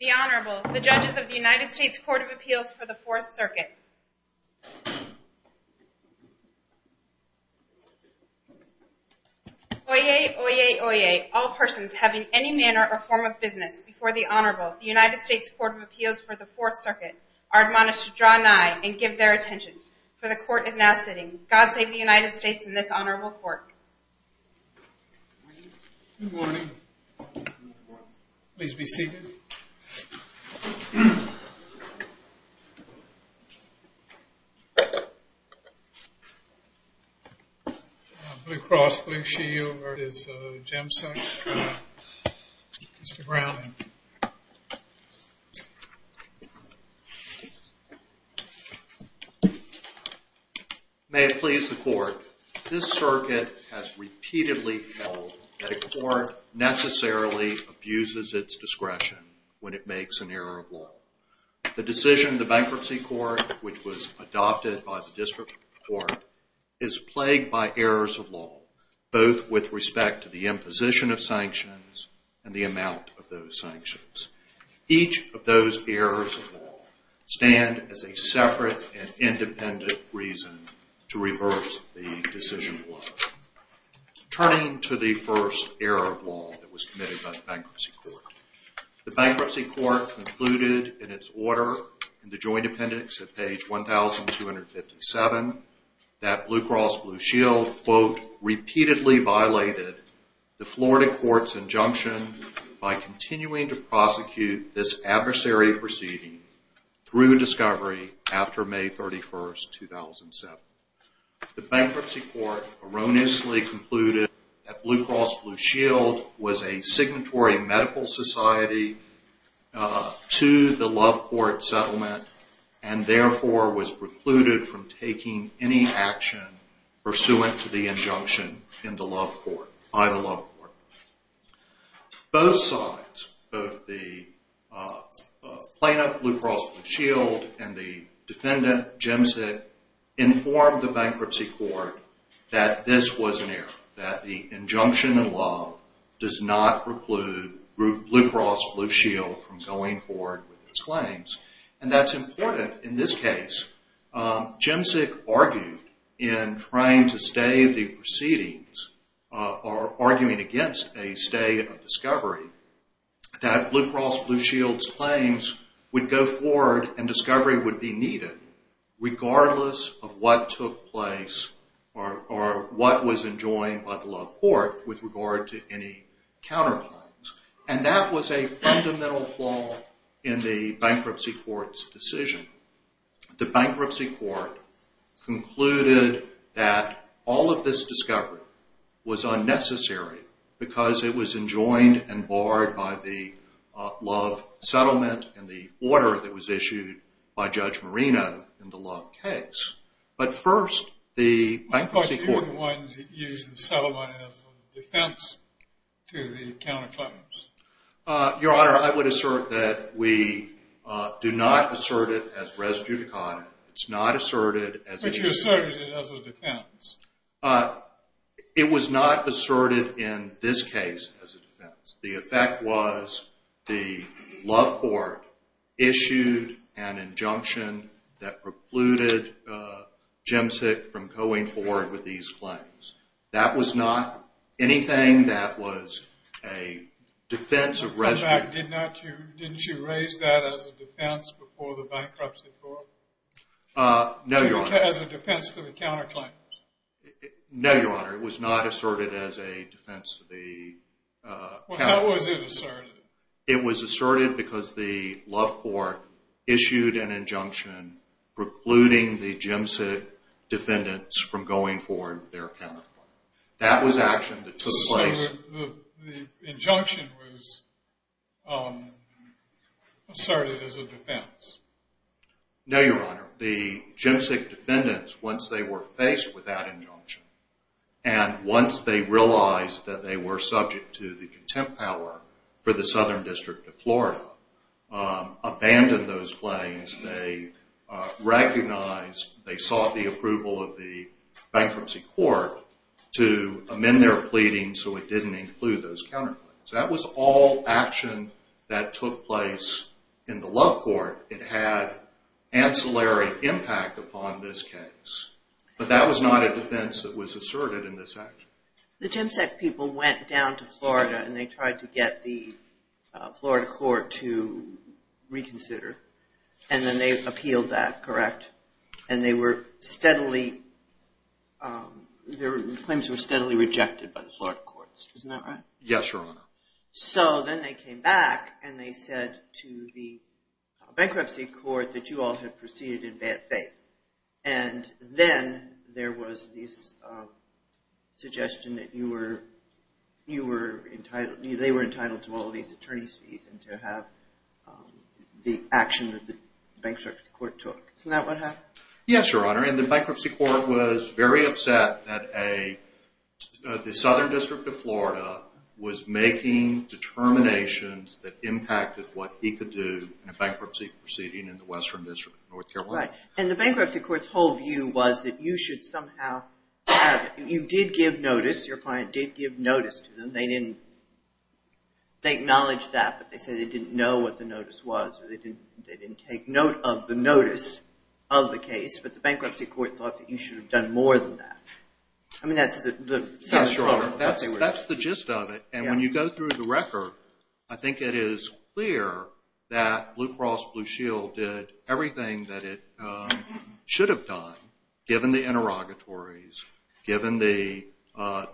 The Honorable, the judges of the United States Court of Appeals for the Fourth Circuit. Oyez, oyez, oyez, all persons having any manner or form of business before the Honorable, the United States Court of Appeals for the Fourth Circuit, are admonished to draw nigh and give their attention, for the Court is now sitting. God save the United States and this Honorable Court. Good morning. Please be seated. Blue Cross Blue Shield v. Jemsek, Mr. Brown. May it please the Court. This circuit has repeatedly held that a court necessarily abuses its discretion when it makes an error of law. The decision of the Bankruptcy Court, which was adopted by the District Court, is plagued by errors of law, both with respect to the imposition of sanctions and the amount of those sanctions. Each of those errors of law stand as a separate and independent reason to reverse the decision of law. Turning to the first error of law that was committed by the Bankruptcy Court, the Bankruptcy Court concluded in its order, in the joint appendix at page 1,257, that Blue Cross Blue Shield, quote, repeatedly violated the Florida court's injunction by continuing to prosecute this adversary proceeding through discovery after May 31, 2007. The Bankruptcy Court erroneously concluded that Blue Cross Blue Shield was a signatory medical society to the Love Court settlement and therefore was precluded from taking any action pursuant to the injunction by the Love Court. Both sides, both the plaintiff, Blue Cross Blue Shield, and the defendant, Jemsek, informed the Bankruptcy Court that this was an error, that the injunction in Love does not preclude Blue Cross Blue Shield from going forward with its claims. And that's important in this case. Jemsek argued in trying to stay the proceedings, or arguing against a stay of discovery, that Blue Cross Blue Shield's claims would go forward and discovery would be needed regardless of what took place or what was enjoined by the Love Court with regard to any counterclaims. And that was a fundamental flaw in the Bankruptcy Court's decision. The Bankruptcy Court concluded that all of this discovery was unnecessary because it was enjoined and barred by the Love settlement and the order that was issued by Judge Marino in the Love case. But first, the Bankruptcy Court... My question is, you're the one who used the settlement as a defense to the counterclaims. Your Honor, I would assert that we do not assert it as res judicata. It's not asserted as... But you asserted it as a defense. It was not asserted in this case as a defense. The effect was the Love Court issued an injunction that precluded Jemsek from going forward with these claims. That was not anything that was a defense of... In fact, didn't you raise that as a defense before the Bankruptcy Court? No, Your Honor. As a defense to the counterclaims? No, Your Honor. It was not asserted as a defense to the counterclaims. Well, how was it asserted? It was asserted because the Love Court issued an injunction precluding the Jemsek defendants from going forward with their counterclaims. That was action that took place... So the injunction was asserted as a defense? No, Your Honor. The Jemsek defendants, once they were faced with that injunction and once they realized that they were subject to the contempt power for the Southern District of Florida, abandoned those claims. They recognized, they sought the approval of the Bankruptcy Court to amend their pleading so it didn't include those counterclaims. That was all action that took place in the Love Court. It had ancillary impact upon this case, but that was not a defense that was asserted in this action. The Jemsek people went down to Florida and they tried to get the Florida court to reconsider, and then they appealed that, correct? And their claims were steadily rejected by the Florida courts, isn't that right? Yes, Your Honor. So then they came back and they said to the Bankruptcy Court that you all had proceeded in bad faith, and then there was this suggestion that they were entitled to all these attorney's fees and to have the action that the Bankruptcy Court took. Isn't that what happened? Yes, Your Honor, and the Bankruptcy Court was very upset that the Southern District of Florida was making determinations that impacted what he could do in a bankruptcy proceeding in the Western District of North Carolina. Right, and the Bankruptcy Court's whole view was that you should somehow have, you did give notice, your client did give notice to them, they didn't, they acknowledged that, but they said they didn't know what the notice was, or they didn't take note of the notice of the case, but the Bankruptcy Court thought that you should have done more than that. That's the gist of it, and when you go through the record, I think it is clear that Blue Cross Blue Shield did everything that it should have done, given the interrogatories, given the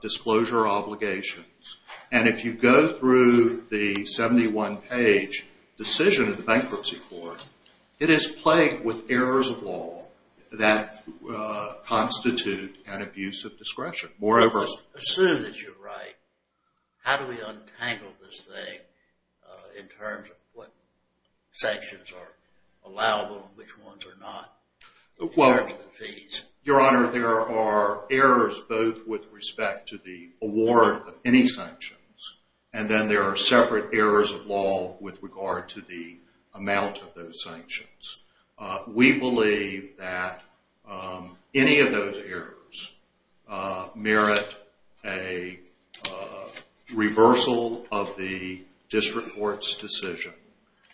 disclosure obligations, and if you go through the 71-page decision of the Bankruptcy Court, it is plagued with errors of law that constitute an abuse of discretion. Assume that you're right, how do we untangle this thing in terms of what sanctions are allowable and which ones are not? Your Honor, there are errors both with respect to the award of any sanctions, and then there are separate errors of law with regard to the amount of those sanctions. We believe that any of those errors merit a reversal of the District Court's decision,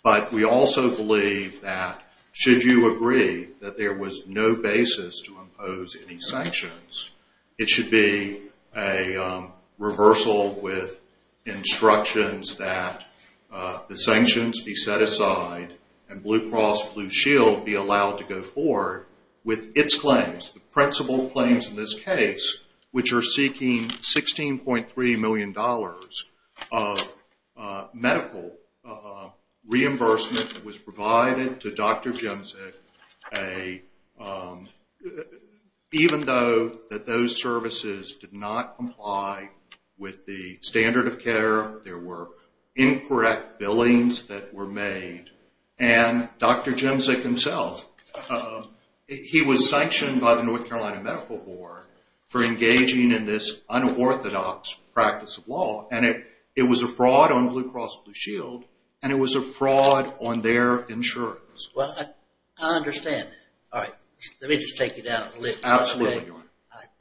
but we also believe that should you agree that there was no basis to impose any sanctions, it should be a reversal with instructions that the sanctions be set aside, and Blue Cross Blue Shield should not be allowed to impose any sanctions. Blue Cross Blue Shield be allowed to go forward with its claims, the principal claims in this case, which are seeking $16.3 million of medical reimbursement that was provided to Dr. Jemzik, even though those services did not comply with the standard of care, there were incorrect billings that were made, and Dr. Jemzik himself, he was sanctioned by the North Carolina Medical Board for engaging in this unorthodox practice of law, and it was a fraud on Blue Cross Blue Shield, and it was a fraud on their insurance. Well, I understand that. All right, let me just take you down a list. I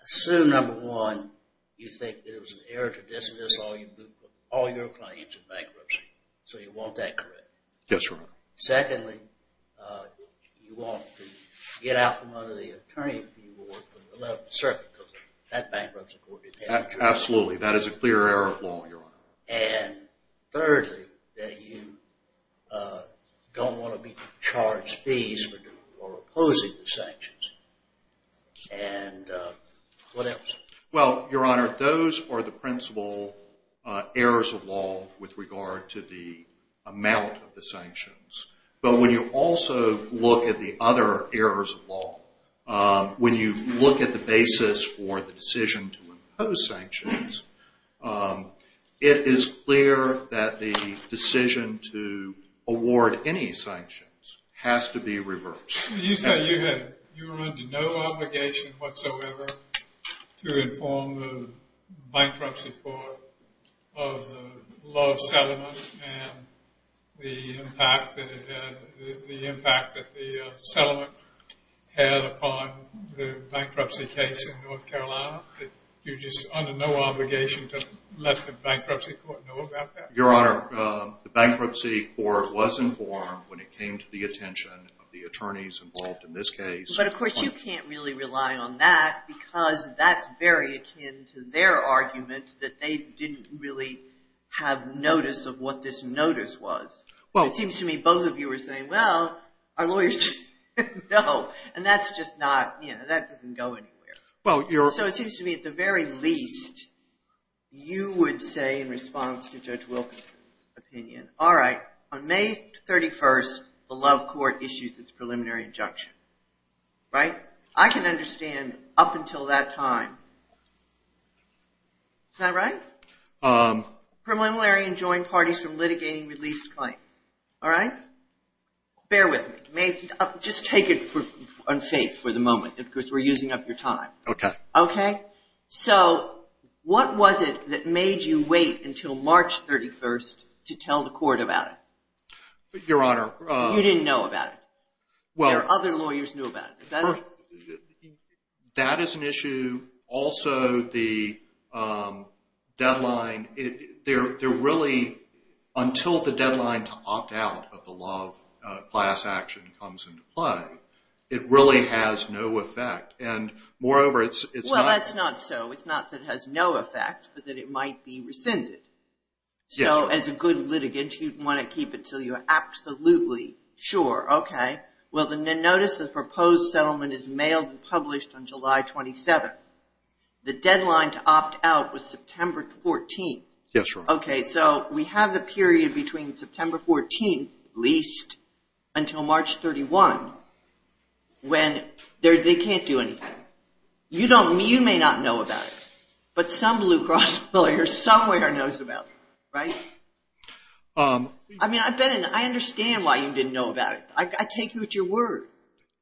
assume, number one, you think that it was an error to dismiss all your claims in bankruptcy, so you want that correct? Yes, Your Honor. Secondly, you want to get out from under the attorney's view or from the left circuit, because that bankrupts the court. Absolutely, that is a clear error of law, Your Honor. And thirdly, that you don't want to be charged fees for opposing the sanctions. And what else? Well, Your Honor, those are the principal errors of law with regard to the amount of the sanctions, but when you also look at the other errors of law, when you look at the basis for the decision to impose sanctions, it is clear that the decision to award any sanctions has to be reversed. You said you were under no obligation whatsoever to inform the Bankruptcy Court of the law of settlement and the impact that the settlement had upon the bankruptcy case in North Carolina. You're just under no obligation to let the Bankruptcy Court know about that? Your Honor, the Bankruptcy Court was informed when it came to the attention of the attorneys involved in this case. But, of course, you can't really rely on that, because that's very akin to their argument that they didn't really have notice of what this notice was. It seems to me both of you are saying, well, our lawyers didn't know, and that's just not, you know, that doesn't go anywhere. So it seems to me, at the very least, you would say in response to Judge Wilkinson's opinion, all right, on May 31st, the Love Court issues its preliminary injunction, right? I can understand up until that time. Is that right? Preliminary and joint parties from litigating released claims. All right? Bear with me. Just take it on faith for the moment, because we're using up your time. Okay. Okay? So what was it that made you wait until March 31st to tell the court about it? Your Honor, You didn't know about it? Well, That is an issue. Also, the deadline, there really, until the deadline to opt out of the Love class action comes into play, it really has no effect. And, moreover, it's not, Well, that's not so. It's not that it has no effect, but that it might be rescinded. So as a good litigant, you'd want to keep it until you're absolutely sure. Okay. Well, the notice of proposed settlement is mailed and published on July 27th. The deadline to opt out was September 14th. Yes, Your Honor. Okay. So we have the period between September 14th, at least, until March 31, when they can't do anything. You may not know about it, but some Blue Cross lawyer somewhere knows about it. Right? I mean, I understand why you didn't know about it. I take you at your word.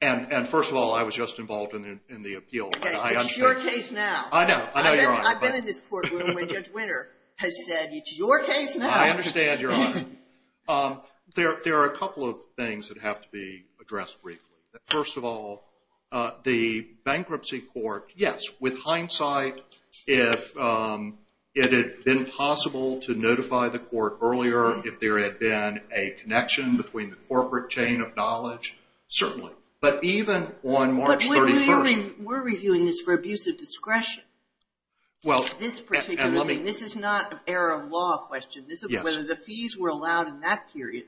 And, first of all, I was just involved in the appeal. It's your case now. I know. I know, Your Honor. I've been in this courtroom where Judge Winter has said, it's your case now. I understand, Your Honor. There are a couple of things that have to be addressed briefly. First of all, the bankruptcy court, yes, with hindsight, if it had been possible to notify the court earlier, if there had been a connection between the corporate chain of knowledge, certainly. But even on March 31st, We're reviewing this for abuse of discretion. This particular thing. This is not an error of law question. Whether the fees were allowed in that period,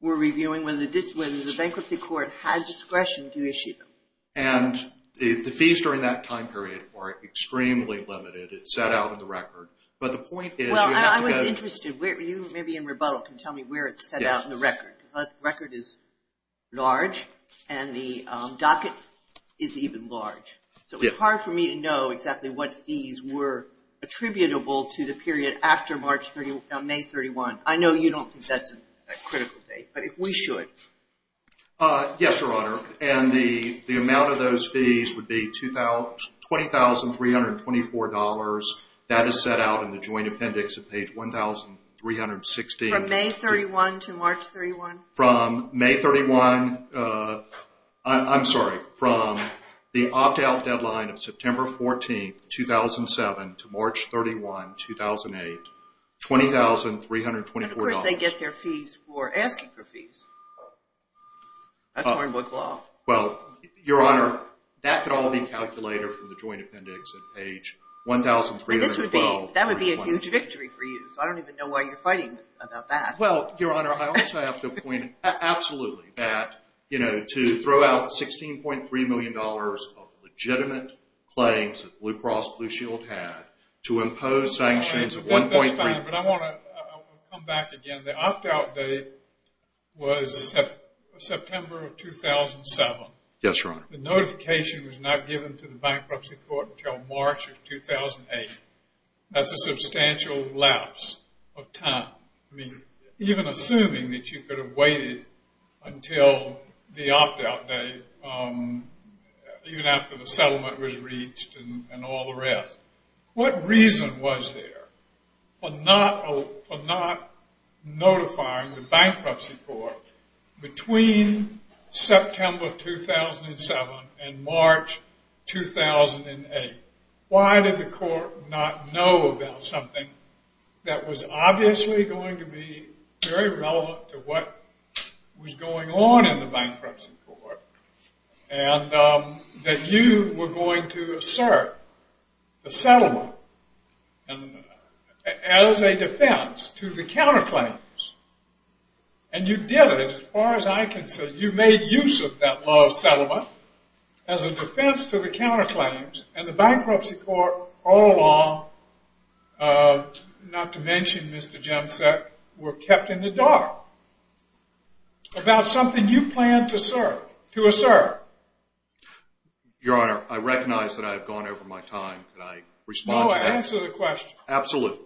we're reviewing whether the bankruptcy court has discretion to issue them. And the fees during that time period are extremely limited. It's set out in the record. But the point is, you have to have Maybe in rebuttal, you can tell me where it's set out in the record. The record is large, and the docket is even large. So it's hard for me to know exactly what fees were attributable to the period after May 31st. I know you don't think that's a critical date, but if we should. Yes, Your Honor. And the amount of those fees would be $20,324. That is set out in the joint appendix at page 1,316. From May 31 to March 31? From May 31. I'm sorry. From the opt-out deadline of September 14, 2007 to March 31, 2008. $20,324. But of course, they get their fees for asking for fees. That's foreign work law. Well, Your Honor, that could all be calculated from the joint appendix at page 1,312. That would be a huge victory for you. So I don't even know why you're fighting about that. Well, Your Honor, I also have to point out, absolutely, that to throw out $16.3 million of legitimate claims that Blue Cross Blue Shield had to impose sanctions of 1.3 The opt-out date was September of 2007. Yes, Your Honor. The notification was not given to the bankruptcy court until March of 2008. That's a substantial lapse of time. I mean, even assuming that you could have waited until the opt-out date, even after the settlement was reached and all the rest. What reason was there for not notifying the bankruptcy court between September 2007 and March 2008? Why did the court not know about something that was obviously going to be very relevant to what was going on in the bankruptcy court? And that you were going to serve the settlement as a defense to the counterclaims. And you did it, as far as I can see. You made use of that law of settlement as a defense to the counterclaims. And the bankruptcy court all along, not to mention Mr. Jemczak, were kept in the dark about something you planned to serve. Your Honor, I recognize that I have gone over my time. Can I respond to that? No, answer the question. Absolutely.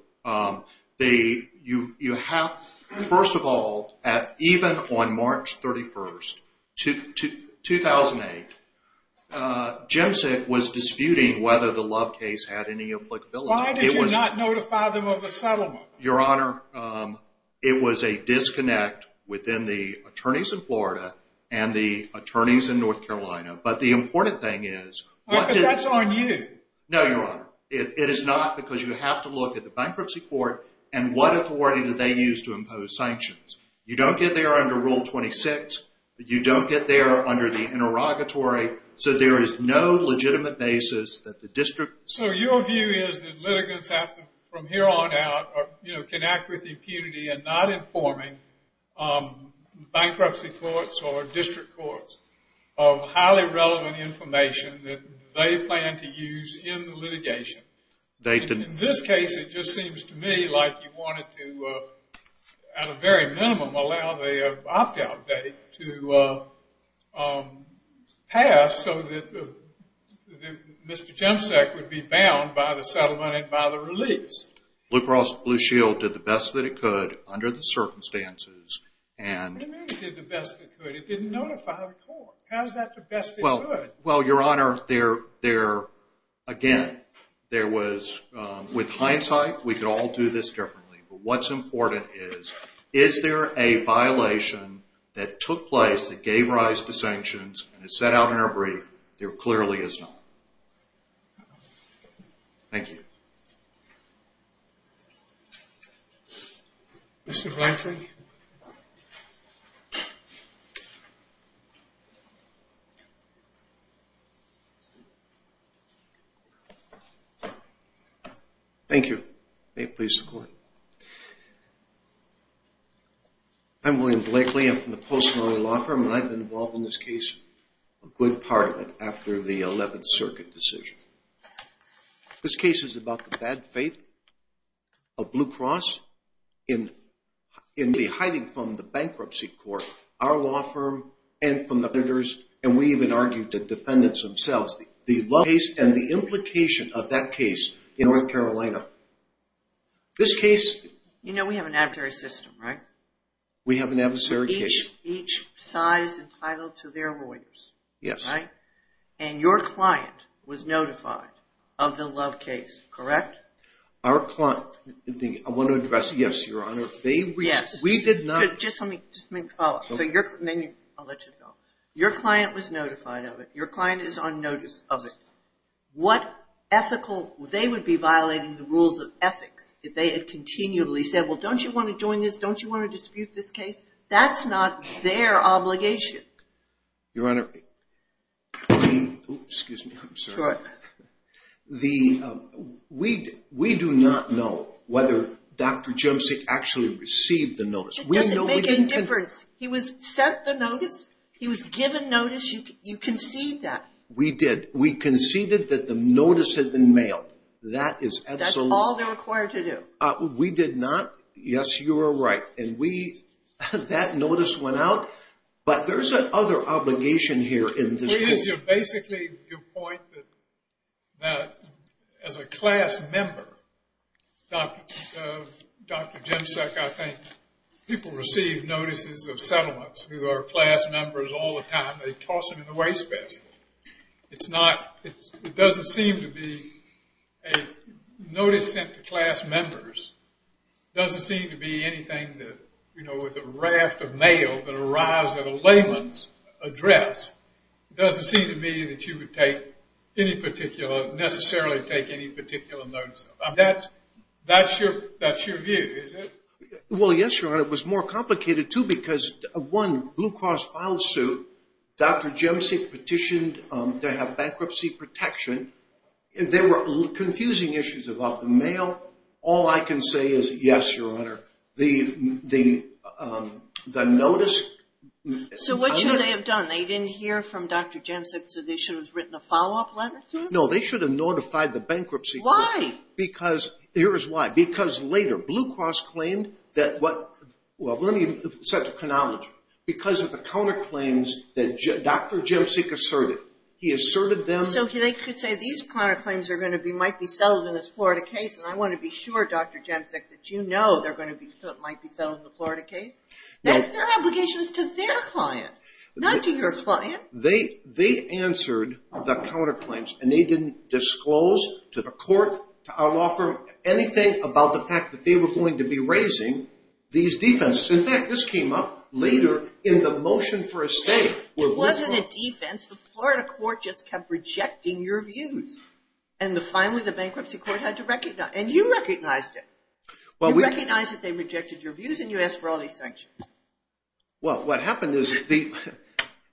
First of all, even on March 31st, 2008, Jemczak was disputing whether the Love case had any applicability. Why did you not notify them of the settlement? Your Honor, it was a disconnect within the attorneys in Florida and the attorneys in North Carolina. But the important thing is... But that's on you. No, Your Honor. It is not, because you have to look at the bankruptcy court and what authority did they use to impose sanctions. You don't get there under Rule 26. You don't get there under the interrogatory. So there is no legitimate basis that the district... So your view is that litigants have to, from here on out, can act with impunity in not informing bankruptcy courts or district courts of highly relevant information that they plan to use in litigation. In this case, it just seems to me like you wanted to, at a very minimum, allow the opt-out date to pass so that Mr. Jemczak would be bound by the settlement and by the release. Blue Cross Blue Shield did the best that it could under the circumstances and... What do you mean it did the best it could? It didn't notify the court. How is that the best it could? Well, Your Honor, there... Again, there was... With hindsight, we could all do this differently. But what's important is, is there a violation that took place that gave rise to sanctions and is set out in our brief? There clearly is not. Thank you. Mr. Fletcher? Thank you. May it please the Court. I'm William Blakely. I'm from the Post-Mortem Law Firm, and I've been involved in this case a good part of it after the 11th Circuit decision. This case is about the bad faith of Blue Cross in hiding from the Bankruptcy Court, our law firm, and from the... And we even argued the defendants themselves. The case and the implication of that case in North Carolina. This case... You know we have an adversary system, right? We have an adversary case. Each side is entitled to their lawyers. Yes. And your client was notified of the Love case, correct? Our client... I want to address... Yes, Your Honor. Yes. We did not... Just let me... Just let me follow up. I'll let you go. Your client was notified of it. Your client is on notice of it. What ethical... They would be violating the rules of ethics if they had continually said, Well, don't you want to join this? Don't you want to dispute this case? That's not their obligation. Your Honor... Excuse me. I'm sorry. Sure. We do not know whether Dr. Jemczyk actually received the notice. It doesn't make any difference. He was sent the notice. He was given notice. You conceded that. We did. We conceded that the notice had been mailed. That is absolutely... That's all they're required to do. We did not. Yes, you are right. That notice went out, but there's an other obligation here in this case. Basically, your point that as a class member, Dr. Jemczyk, I think, people receive notices of settlements who are class members all the time. They toss them in the wastebasket. It's not... It doesn't seem to be a notice sent to class members. It doesn't seem to be anything that, you know, with a raft of mail that arrives at a layman's address. It doesn't seem to me that you would take any particular, necessarily take any particular notice. That's your view, is it? Well, yes, your Honor. It was more complicated, too, because, one, Blue Cross file suit. Dr. Jemczyk petitioned to have bankruptcy protection. There were confusing issues about the mail. All I can say is yes, your Honor. The notice... So what should they have done? They didn't hear from Dr. Jemczyk, so they should have written a follow-up letter to him? No, they should have notified the bankruptcy court. Why? Because... Here is why. Because later, Blue Cross claimed that what... Well, let me set the chronology. Because of the counterclaims that Dr. Jemczyk asserted, he asserted them... So they could say these counterclaims are going to be... might be settled in this Florida case, and I want to be sure, Dr. Jemczyk, that you know they're going to be... might be settled in the Florida case? Their obligation is to their client, not to your client. They answered the counterclaims, and they didn't disclose to the court, to our law firm, anything about the fact that they were going to be raising these defenses. In fact, this came up later in the motion for a stay. It wasn't a defense. The Florida court just kept rejecting your views. And finally, the bankruptcy court had to recognize... and you recognized it. You recognized that they rejected your views, and you asked for all these sanctions. Well, what happened is the...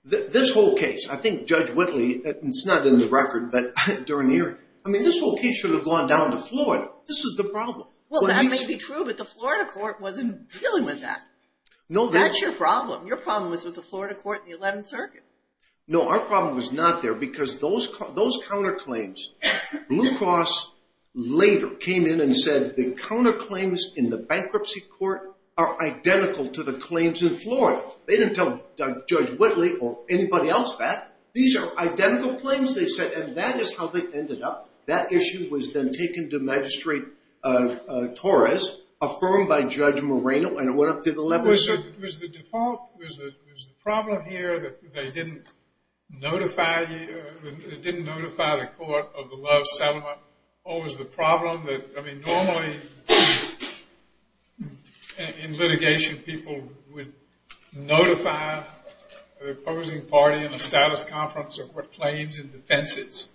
this whole case, I think Judge Whitley, and it's not in the record, but during the hearing, I mean, this whole case should have gone down to Florida. This is the problem. Well, that may be true, but the Florida court wasn't dealing with that. That's your problem. Your problem was with the Florida court in the 11th Circuit. No, our problem was not there because those counterclaims, Blue Cross later came in and said the counterclaims in the bankruptcy court are identical to the claims in Florida. They didn't tell Judge Whitley or anybody else that. These are identical claims, they said, and that is how they ended up. That issue was then taken to Magistrate Torres, affirmed by Judge Moreno, and it went up to the 11th Circuit. Was the default, was the problem here that they didn't notify you, they didn't notify the court of the Love settlement, or was the problem that, I mean, normally in litigation, people would notify the opposing party in a status conference of what claims and defenses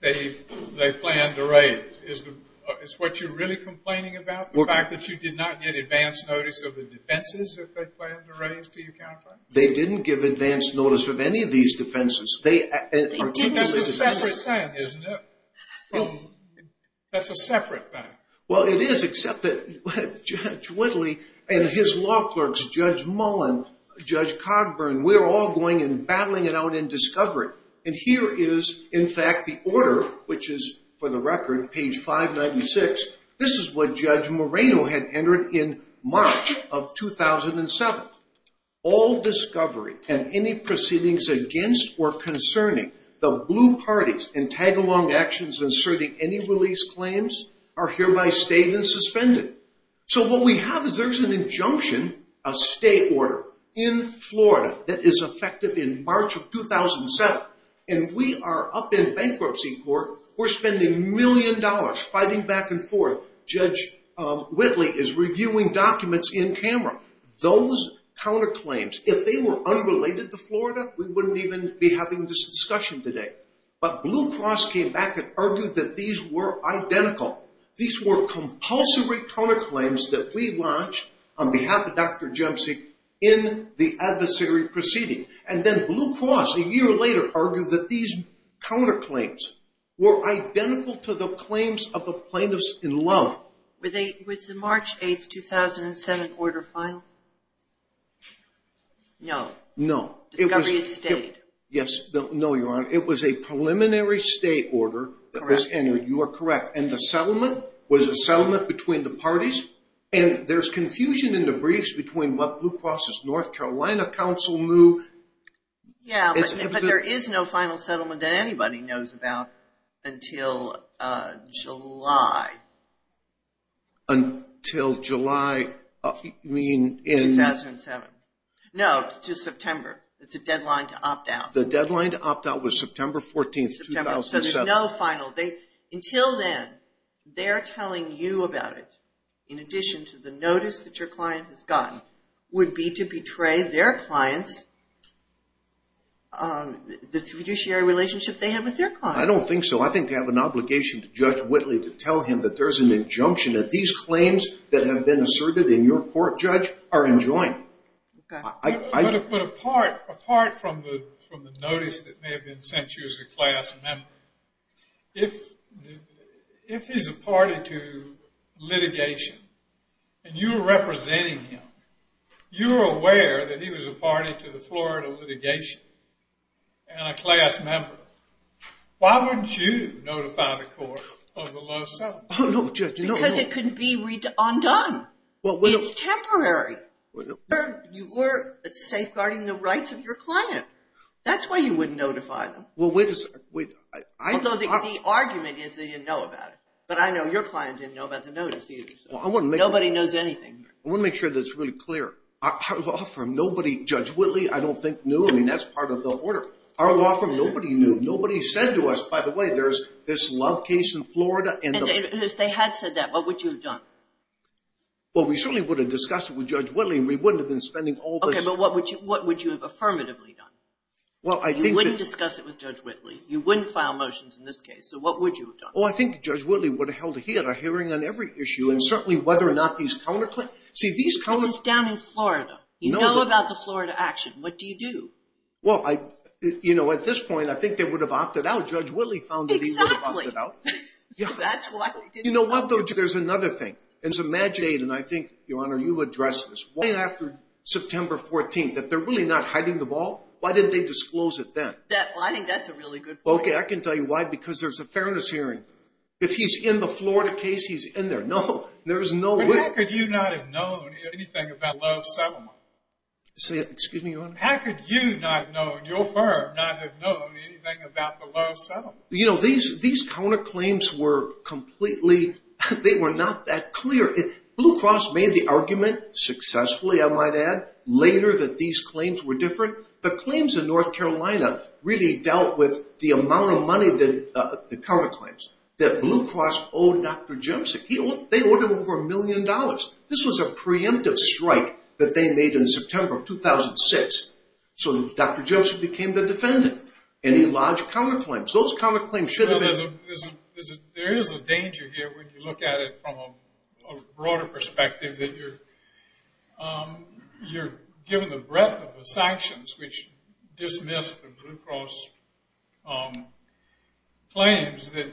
they planned to raise. Is what you're really complaining about the fact that you did not get advance notice of the defenses that they planned to raise, do you count that? They didn't give advance notice of any of these defenses. That's a separate thing, isn't it? That's a separate thing. Well, it is, except that Judge Whitley and his law clerks, Judge Mullen, Judge Cogburn, we're all going and battling it out in discovery. And here is, in fact, the order, which is, for the record, page 596. This is what Judge Moreno had entered in March of 2007. All discovery and any proceedings against or concerning the blue parties and tag-along actions inserting any release claims are hereby stated and suspended. So what we have is there's an injunction, a state order, in Florida that is effective in March of 2007, and we are up in bankruptcy court. We're spending a million dollars fighting back and forth. Judge Whitley is reviewing documents in camera. Those counterclaims, if they were unrelated to Florida, we wouldn't even be having this discussion today. But Blue Cross came back and argued that these were identical. These were compulsory counterclaims that we launched on behalf of Dr. Jemsi in the adversary proceeding. And then Blue Cross, a year later, argued that these counterclaims were identical to the claims of the plaintiffs in love. Was the March 8, 2007 order final? No. No. Discovery has stayed. Yes. No, Your Honor. It was a preliminary state order that was entered. You are correct. And the settlement was a settlement between the parties. And there's confusion in the briefs between what Blue Cross's North Carolina counsel knew. Yeah, but there is no final settlement that anybody knows about until July. Until July? 2007. No, to September. It's a deadline to opt out. The deadline to opt out was September 14, 2007. So there's no final date. Until then, they're telling you about it, in addition to the notice that your client has gotten, would be to betray their client the fiduciary relationship they have with their client. I don't think so. I think they have an obligation to Judge Whitley to tell him that there's an injunction that these claims that have been asserted in your court, Judge, are in joint. But apart from the notice that may have been sent to you as a class member, if he's a party to litigation, and you were representing him, you were aware that he was a party to the Florida litigation and a class member, why wouldn't you notify the court of the low settlement? Oh, no, Judge. Because it could be undone. It's temporary. You were safeguarding the rights of your client. That's why you wouldn't notify them. Although the argument is they didn't know about it. But I know your client didn't know about the notice either. Nobody knows anything. I want to make sure that it's really clear. Our law firm, nobody, Judge Whitley, I don't think, knew. I mean, that's part of the order. Our law firm, nobody knew. Nobody said to us, by the way, there's this love case in Florida. If they had said that, what would you have done? Well, we certainly would have discussed it with Judge Whitley, and we wouldn't have been spending all this. Okay, but what would you have affirmatively done? You wouldn't discuss it with Judge Whitley. You wouldn't file motions in this case. So what would you have done? Oh, I think Judge Whitley would have held a hearing on every issue. And certainly whether or not these counterclaims – But it's down in Florida. You know about the Florida action. What do you do? Well, you know, at this point, I think they would have opted out. Judge Whitley found that he would have opted out. Exactly. You know what, though? There's another thing. And I think, Your Honor, you addressed this. Right after September 14th, if they're really not hiding the ball, why didn't they disclose it then? Well, I think that's a really good point. Okay, I can tell you why. Because there's a fairness hearing. If he's in the Florida case, he's in there. No, there's no way. But how could you not have known anything about the low settlement? Excuse me, Your Honor? How could you not have known, your firm not have known anything about the low settlement? You know, these counterclaims were completely – they were not that clear. Blue Cross made the argument successfully, I might add, later that these claims were different. The claims in North Carolina really dealt with the amount of money that – the counterclaims that Blue Cross owed Dr. Jemczyk. They owed him over a million dollars. This was a preemptive strike that they made in September of 2006. So Dr. Jemczyk became the defendant, and he lodged counterclaims. Those counterclaims should have been – There is a danger here when you look at it from a broader perspective that you're given the breadth of the sanctions, which dismissed the Blue Cross claims, that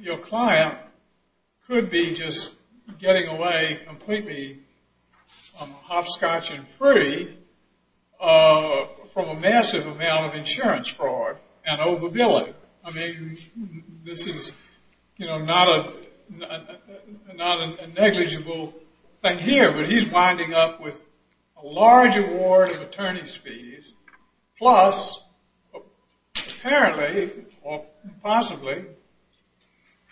your client could be just getting away completely hopscotch and free from a massive amount of insurance fraud and overbilling. I mean, this is, you know, not a negligible thing here, but he's winding up with a large award of attorney's fees, plus apparently or possibly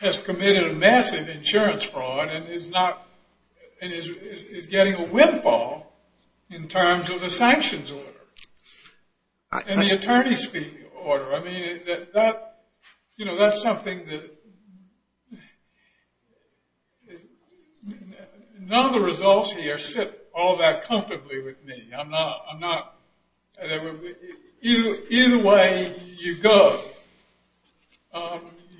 has committed a massive insurance fraud and is getting a windfall in terms of the sanctions order and the attorney's fee order. I mean, that's something that – None of the results here sit all that comfortably with me. I'm not – Either way you go,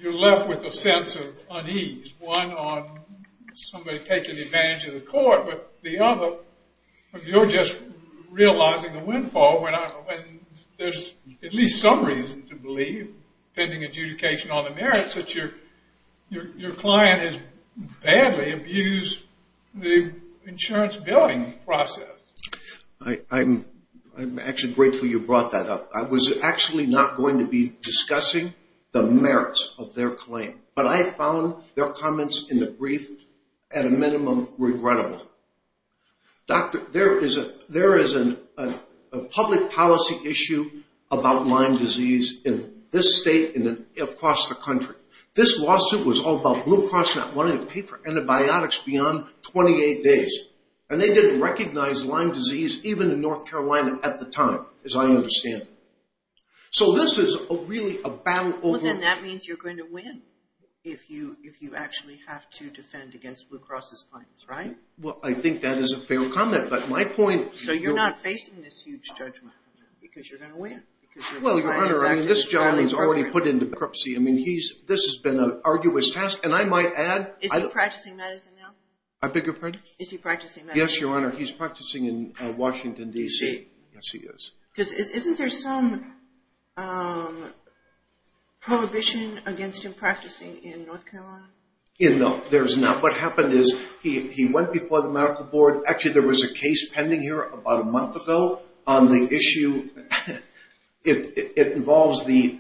you're left with a sense of unease, one on somebody taking advantage of the court, but the other, you're just realizing the windfall. There's at least some reason to believe, depending on adjudication on the merits, that your client has badly abused the insurance billing process. I'm actually grateful you brought that up. I was actually not going to be discussing the merits of their claim, but I found their comments in the brief at a minimum regrettable. Doctor, there is a public policy issue about Lyme disease in this state and across the country. This lawsuit was all about Blue Cross not wanting to pay for antibiotics beyond 28 days, and they didn't recognize Lyme disease even in North Carolina at the time, as I understand. So this is really a battle over – Well, then that means you're going to win if you actually have to defend against Blue Cross' claims, right? Well, I think that is a fair comment, but my point – So you're not facing this huge judgment because you're going to win? Well, Your Honor, this gentleman's already put into bankruptcy. This has been an arduous task, and I might add – Is he practicing medicine now? I beg your pardon? Is he practicing medicine? Yes, Your Honor, he's practicing in Washington, D.C. D.C.? Yes, he is. Isn't there some prohibition against him practicing in North Carolina? No, there's not. What happened is he went before the medical board. Actually, there was a case pending here about a month ago on the issue. It involves the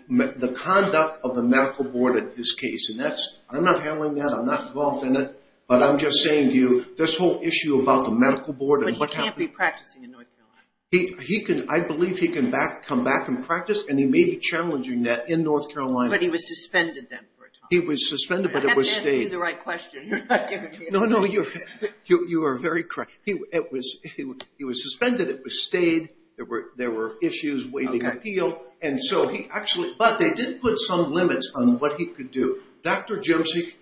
conduct of the medical board in this case, and I'm not handling that. I'm not involved in it, but I'm just saying to you, this whole issue about the medical board and what happened – But he can't be practicing in North Carolina? I believe he can come back and practice, and he may be challenging that in North Carolina. But he was suspended then for a time? He was suspended, but it was stayed. I have to ask you the right question. No, no, you are very correct. He was suspended. It was stayed. There were issues, waiving appeal. And so he actually – But they did put some limits on what he could do. Dr. Jemczyk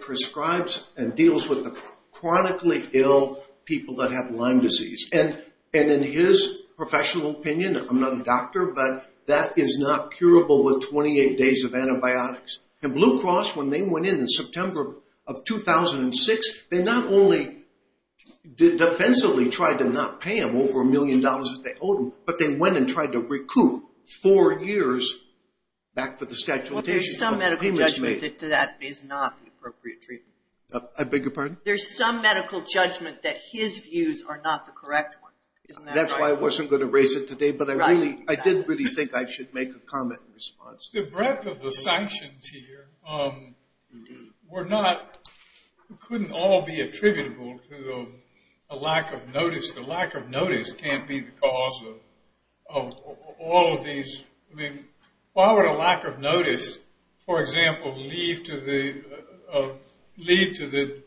prescribes and deals with the chronically ill people that have Lyme disease. And in his professional opinion – I'm not a doctor, but that is not curable with 28 days of antibiotics. And Blue Cross, when they went in in September of 2006, they not only defensively tried to not pay him over a million dollars that they owed him, but they went and tried to recoup four years back for the statute of limitations. Well, there's some medical judgment that that is not the appropriate treatment. I beg your pardon? There's some medical judgment that his views are not the correct ones. Isn't that right? That's why I wasn't going to raise it today, but I did really think I should make a comment in response. The breadth of the sanctions here were not – couldn't all be attributable to a lack of notice. The lack of notice can't be the cause of all of these – I mean, why would a lack of notice, for example, lead to the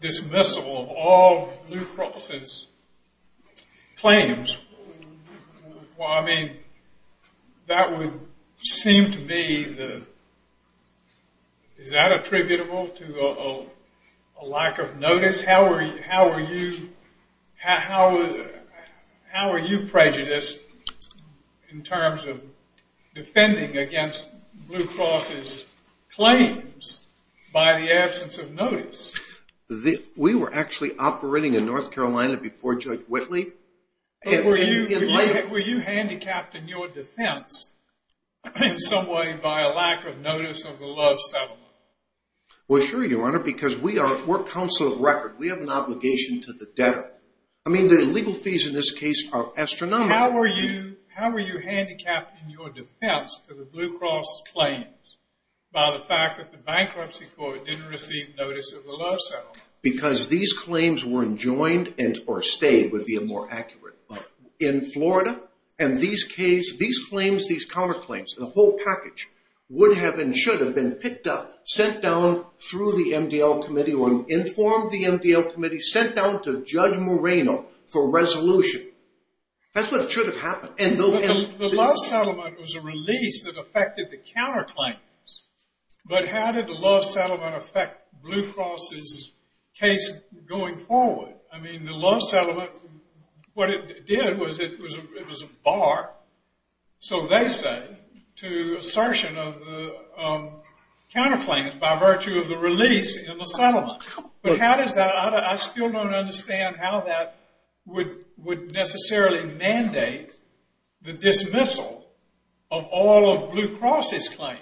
dismissal of all Blue Cross's claims? Well, I mean, that would seem to be the – is that attributable to a lack of notice? How are you prejudiced in terms of defending against Blue Cross's claims by the absence of notice? We were actually operating in North Carolina before Judge Whitley. But were you handicapped in your defense in some way by a lack of notice of the Love settlement? Well, sure, Your Honor, because we're counsel of record. We have an obligation to the debtor. I mean, the legal fees in this case are astronomical. How were you handicapped in your defense to the Blue Cross claims by the fact that the bankruptcy court didn't receive notice of the Love settlement? Because these claims were enjoined and – or stayed, would be a more accurate – in Florida, and these claims, these counterclaims, the whole package would have and should have been picked up, sent down through the MDL Committee or informed the MDL Committee, sent down to Judge Moreno for resolution. That's what should have happened. The Love settlement was a release that affected the counterclaims. But how did the Love settlement affect Blue Cross's case going forward? I mean, the Love settlement, what it did was it was a bar, so they say, to assertion of the counterclaims by virtue of the release in the settlement. But how does that – I still don't understand how that would necessarily mandate the dismissal of all of Blue Cross's claims.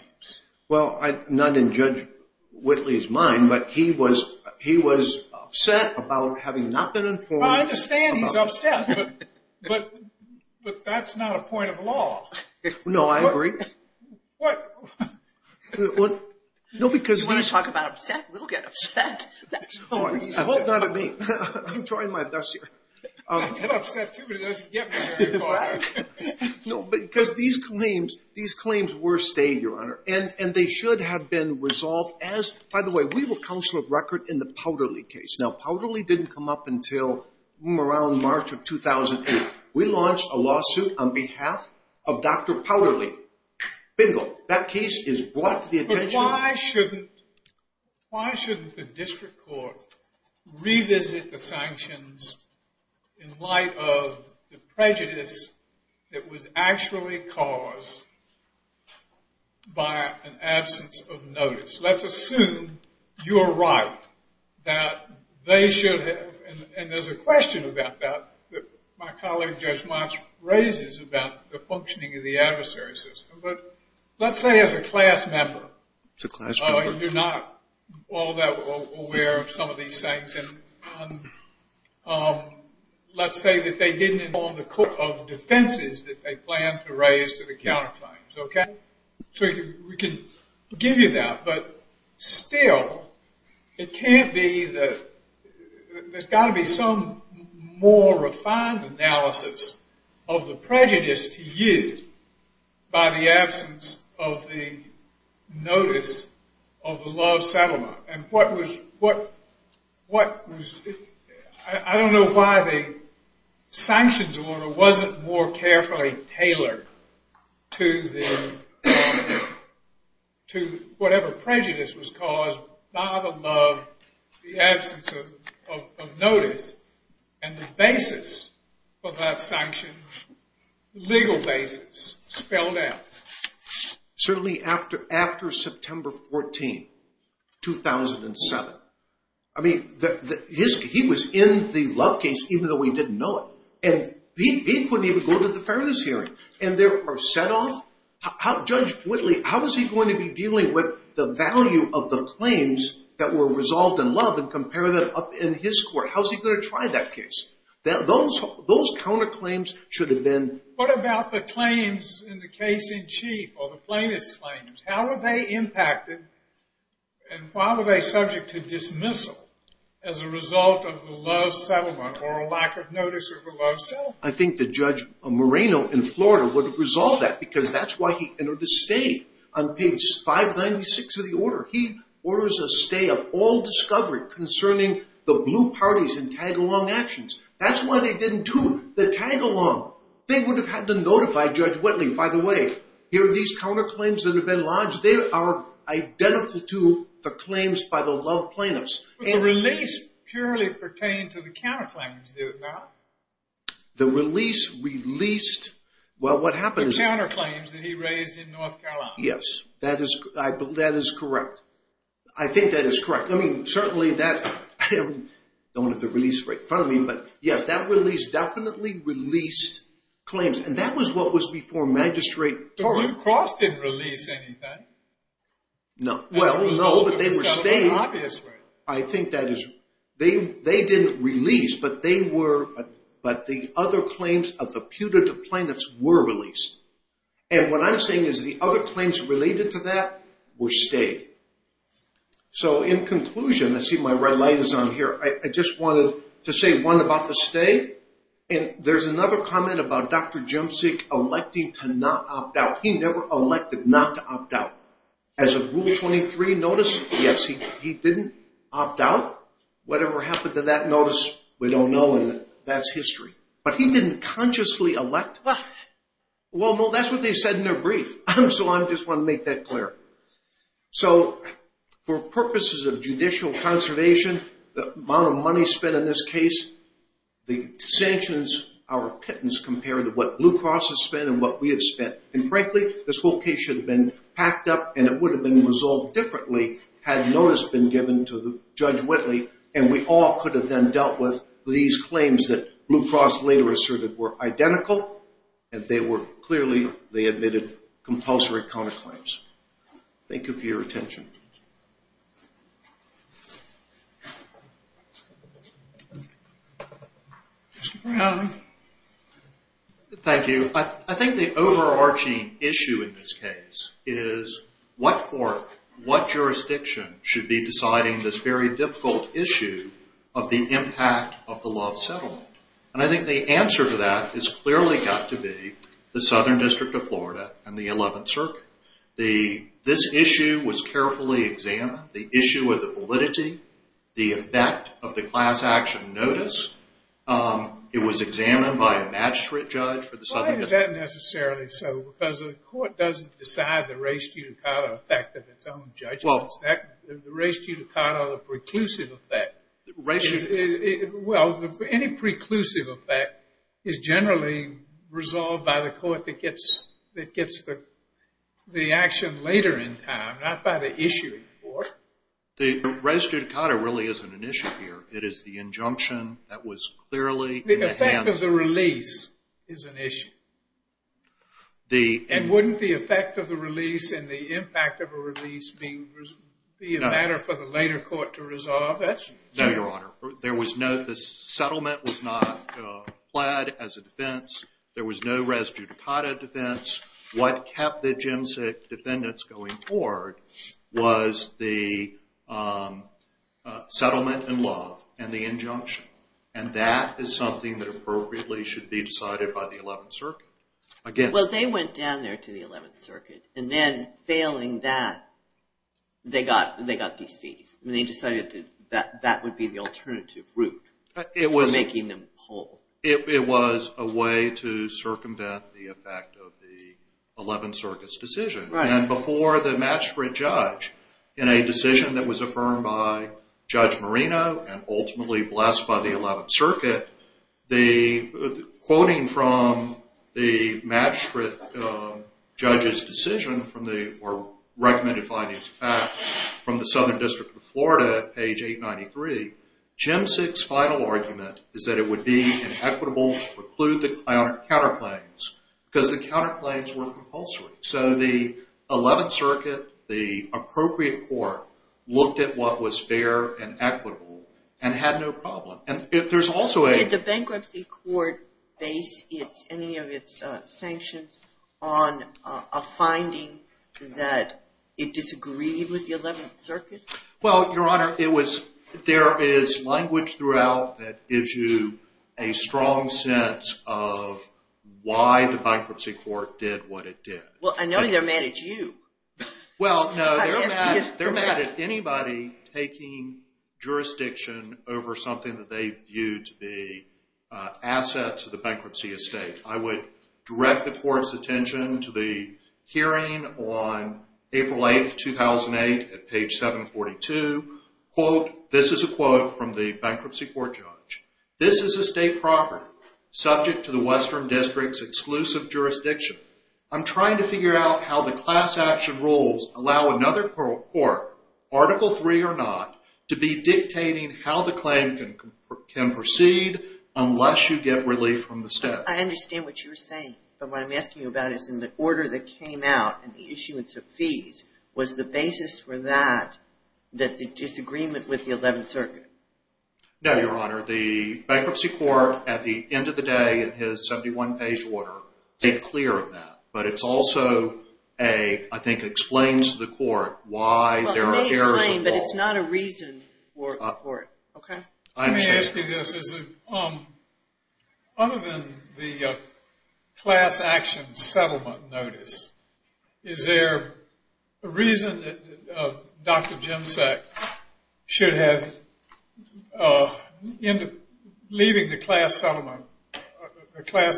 Well, I didn't judge Whitley's mind, but he was upset about having not been informed. I understand he's upset, but that's not a point of law. No, I agree. What? No, because these – You want to talk about upset? We'll get upset. I hope not at me. I'm trying my best here. I get upset too, but it doesn't get me very far. No, because these claims were stayed, Your Honor, and they should have been resolved as – by the way, we were counsel of record in the Powderly case. Now, Powderly didn't come up until around March of 2008. We launched a lawsuit on behalf of Dr. Powderly. Bingo. That case is brought to the attention of – But why shouldn't the district court revisit the sanctions in light of the prejudice that was actually caused by an absence of notice? Let's assume you're right, that they should have – and there's a question about that that my colleague, Judge Motsch, raises about the functioning of the adversary system. But let's say as a class member – It's a class member. You're not all that aware of some of these things. And let's say that they didn't inform the court of defenses that they planned to raise to the counterclaims. So we can give you that. But still, it can't be that – There's got to be some more refined analysis of the prejudice to you by the absence of the notice of the love settlement. And what was – I don't know why the sanctions order wasn't more carefully tailored to whatever prejudice was caused by the love, the absence of notice, and the basis for that sanction, the legal basis spelled out. Certainly after September 14, 2007. I mean, he was in the love case even though he didn't know it. And he couldn't even go to the fairness hearing. And there are set-offs. Judge Whitley, how is he going to be dealing with the value of the claims that were resolved in love and compare that up in his court? How is he going to try that case? Those counterclaims should have been – What about the claims in the case in chief or the plaintiff's claims? How were they impacted? And why were they subject to dismissal as a result of the love settlement or a lack of notice of the love settlement? I think that Judge Moreno in Florida would have resolved that because that's why he entered a stay on page 596 of the order. He orders a stay of all discovery concerning the blue parties and tag-along actions. That's why they didn't do the tag-along. They would have had to notify Judge Whitley. By the way, here are these counterclaims that have been lodged. They are identical to the claims by the love plaintiffs. But the release purely pertained to the counterclaims, did it not? The release released – well, what happened is – The counterclaims that he raised in North Carolina. Yes, that is correct. I think that is correct. Yes, that release definitely released claims. And that was what was before Magistrate Torrey. The Blue Cross didn't release anything. No, but they were stayed. I think that is – they didn't release, but they were – but the other claims of the putative plaintiffs were released. And what I'm saying is the other claims related to that were stayed. So, in conclusion, I see my red light is on here. I just wanted to say one about the stay. And there's another comment about Dr. Jemczyk electing to not opt out. He never elected not to opt out. As of Rule 23 notice, yes, he didn't opt out. Whatever happened to that notice, we don't know, and that's history. But he didn't consciously elect. Well, that's what they said in their brief, so I just want to make that clear. So, for purposes of judicial conservation, the amount of money spent in this case, the sanctions are pittance compared to what Blue Cross has spent and what we have spent. And, frankly, this whole case should have been packed up and it would have been resolved differently had notice been given to Judge Whitley, and we all could have then dealt with these claims that Blue Cross later asserted were identical, and they were clearly, they admitted compulsory counterclaims. Thank you for your attention. Mr. Brown. Thank you. I think the overarching issue in this case is what court, what jurisdiction should be deciding this very difficult issue of the impact of the love settlement. And I think the answer to that has clearly got to be the Southern District of Florida and the Eleventh Circuit. This issue was carefully examined. The issue of the validity, the effect of the class action notice, it was examined by a magistrate judge for the Southern District. Why is that necessarily so? Because the court doesn't decide the res judicata effect of its own judgments. The res judicata, the preclusive effect, well, any preclusive effect is generally resolved by the court that gets the action later in time, not by the issuing court. The res judicata really isn't an issue here. It is the injunction that was clearly in the hands of... The effect of the release is an issue. And wouldn't the effect of the release and the impact of a release be a matter for the later court to resolve? No, Your Honor. The settlement was not applied as a defense. There was no res judicata defense. What kept the Jim Sick defendants going forward was the settlement and love and the injunction. And that is something that appropriately should be decided by the Eleventh Circuit. Well, they went down there to the Eleventh Circuit. And then, failing that, they got these fees. They decided that that would be the alternative route for making them whole. It was a way to circumvent the effect of the Eleventh Circuit's decision. And before the magistrate judge, in a decision that was affirmed by Judge Marino and ultimately blessed by the Eleventh Circuit, the quoting from the magistrate judge's decision or recommended findings of fact from the Southern District of Florida at page 893, Jim Sick's final argument is that it would be inequitable to preclude the counterclaims because the counterclaims were compulsory. So the Eleventh Circuit, the appropriate court, looked at what was fair and equitable and had no problem. And there's also a... Did the bankruptcy court base any of its sanctions on a finding that it disagreed with the Eleventh Circuit? Well, Your Honor, there is language throughout that gives you a strong sense of why the bankruptcy court did what it did. Well, I know they're mad at you. Well, no, they're mad at anybody taking jurisdiction over something that they viewed to be assets of the bankruptcy estate. I would direct the court's attention to the hearing on April 8, 2008, at page 742. Quote, this is a quote from the bankruptcy court judge. This is a state property subject to the Western District's exclusive jurisdiction. I'm trying to figure out how the class action rules allow another court, Article III or not, to be dictating how the claim can proceed unless you get relief from the state. I understand what you're saying. But what I'm asking you about is in the order that came out and the issuance of fees, was the basis for that the disagreement with the Eleventh Circuit? No, Your Honor. The bankruptcy court, at the end of the day, in his 71-page order, made clear of that. But it also, I think, explains to the court why there are errors involved. It may explain, but it's not a reason for it. Let me ask you this. Other than the class action settlement notice, is there a reason that Dr. Jemczak should have, leaving the class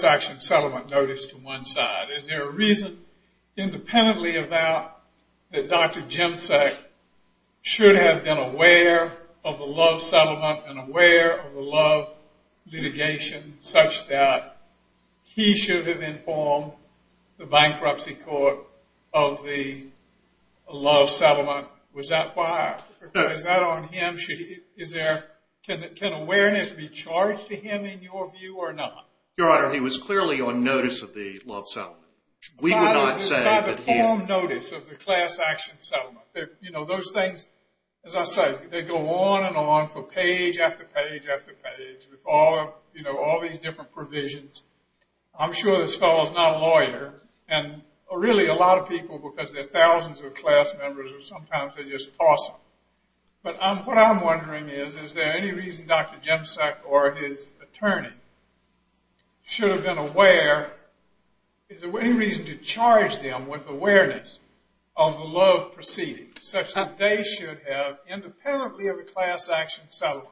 action settlement notice to one side, is there a reason, independently of that, that Dr. Jemczak should have been aware of the love settlement and aware of the love litigation such that he should have informed the bankruptcy court of the love settlement? Was that why? Is that on him? Can awareness be charged to him, in your view, or not? Your Honor, he was clearly on notice of the love settlement. By the form notice of the class action settlement. Those things, as I say, they go on and on for page after page after page with all these different provisions. I'm sure this fellow's not a lawyer, and really a lot of people because they're thousands of class members or sometimes they're just awesome. But what I'm wondering is, is there any reason Dr. Jemczak or his attorney should have been aware, is there any reason to charge them with awareness of the love proceeding such that they should have, independently of the class action settlement,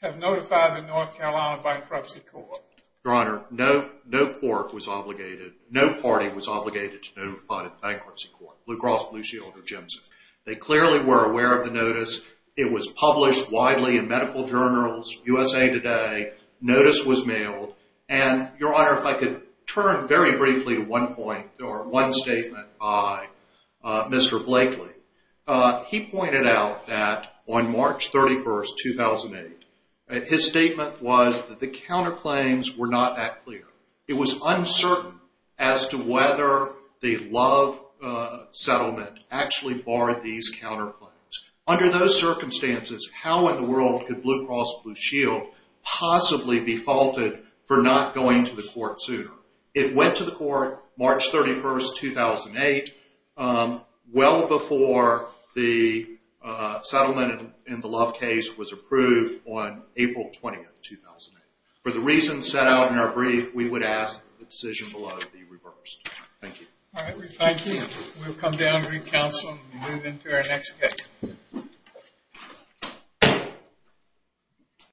have notified the North Carolina bankruptcy court? Your Honor, no court was obligated, no party was obligated to notify the bankruptcy court, Blue Cross Blue Shield or Jemczak. They clearly were aware of the notice. It was published widely in medical journals, USA Today. Notice was mailed. And, Your Honor, if I could turn very briefly to one point or one statement by Mr. Blakely. He pointed out that on March 31st, 2008, his statement was that the counterclaims were not that clear. It was uncertain as to whether the love settlement actually barred these counterclaims. Under those circumstances, how in the world could Blue Cross Blue Shield possibly be faulted for not going to the court sooner? It went to the court March 31st, 2008, well before the settlement in the love case was approved on April 20th, 2008. For the reasons set out in our brief, we would ask that the decision below be reversed. Thank you. Thank you. We'll come down and re-counsel and move into our next case.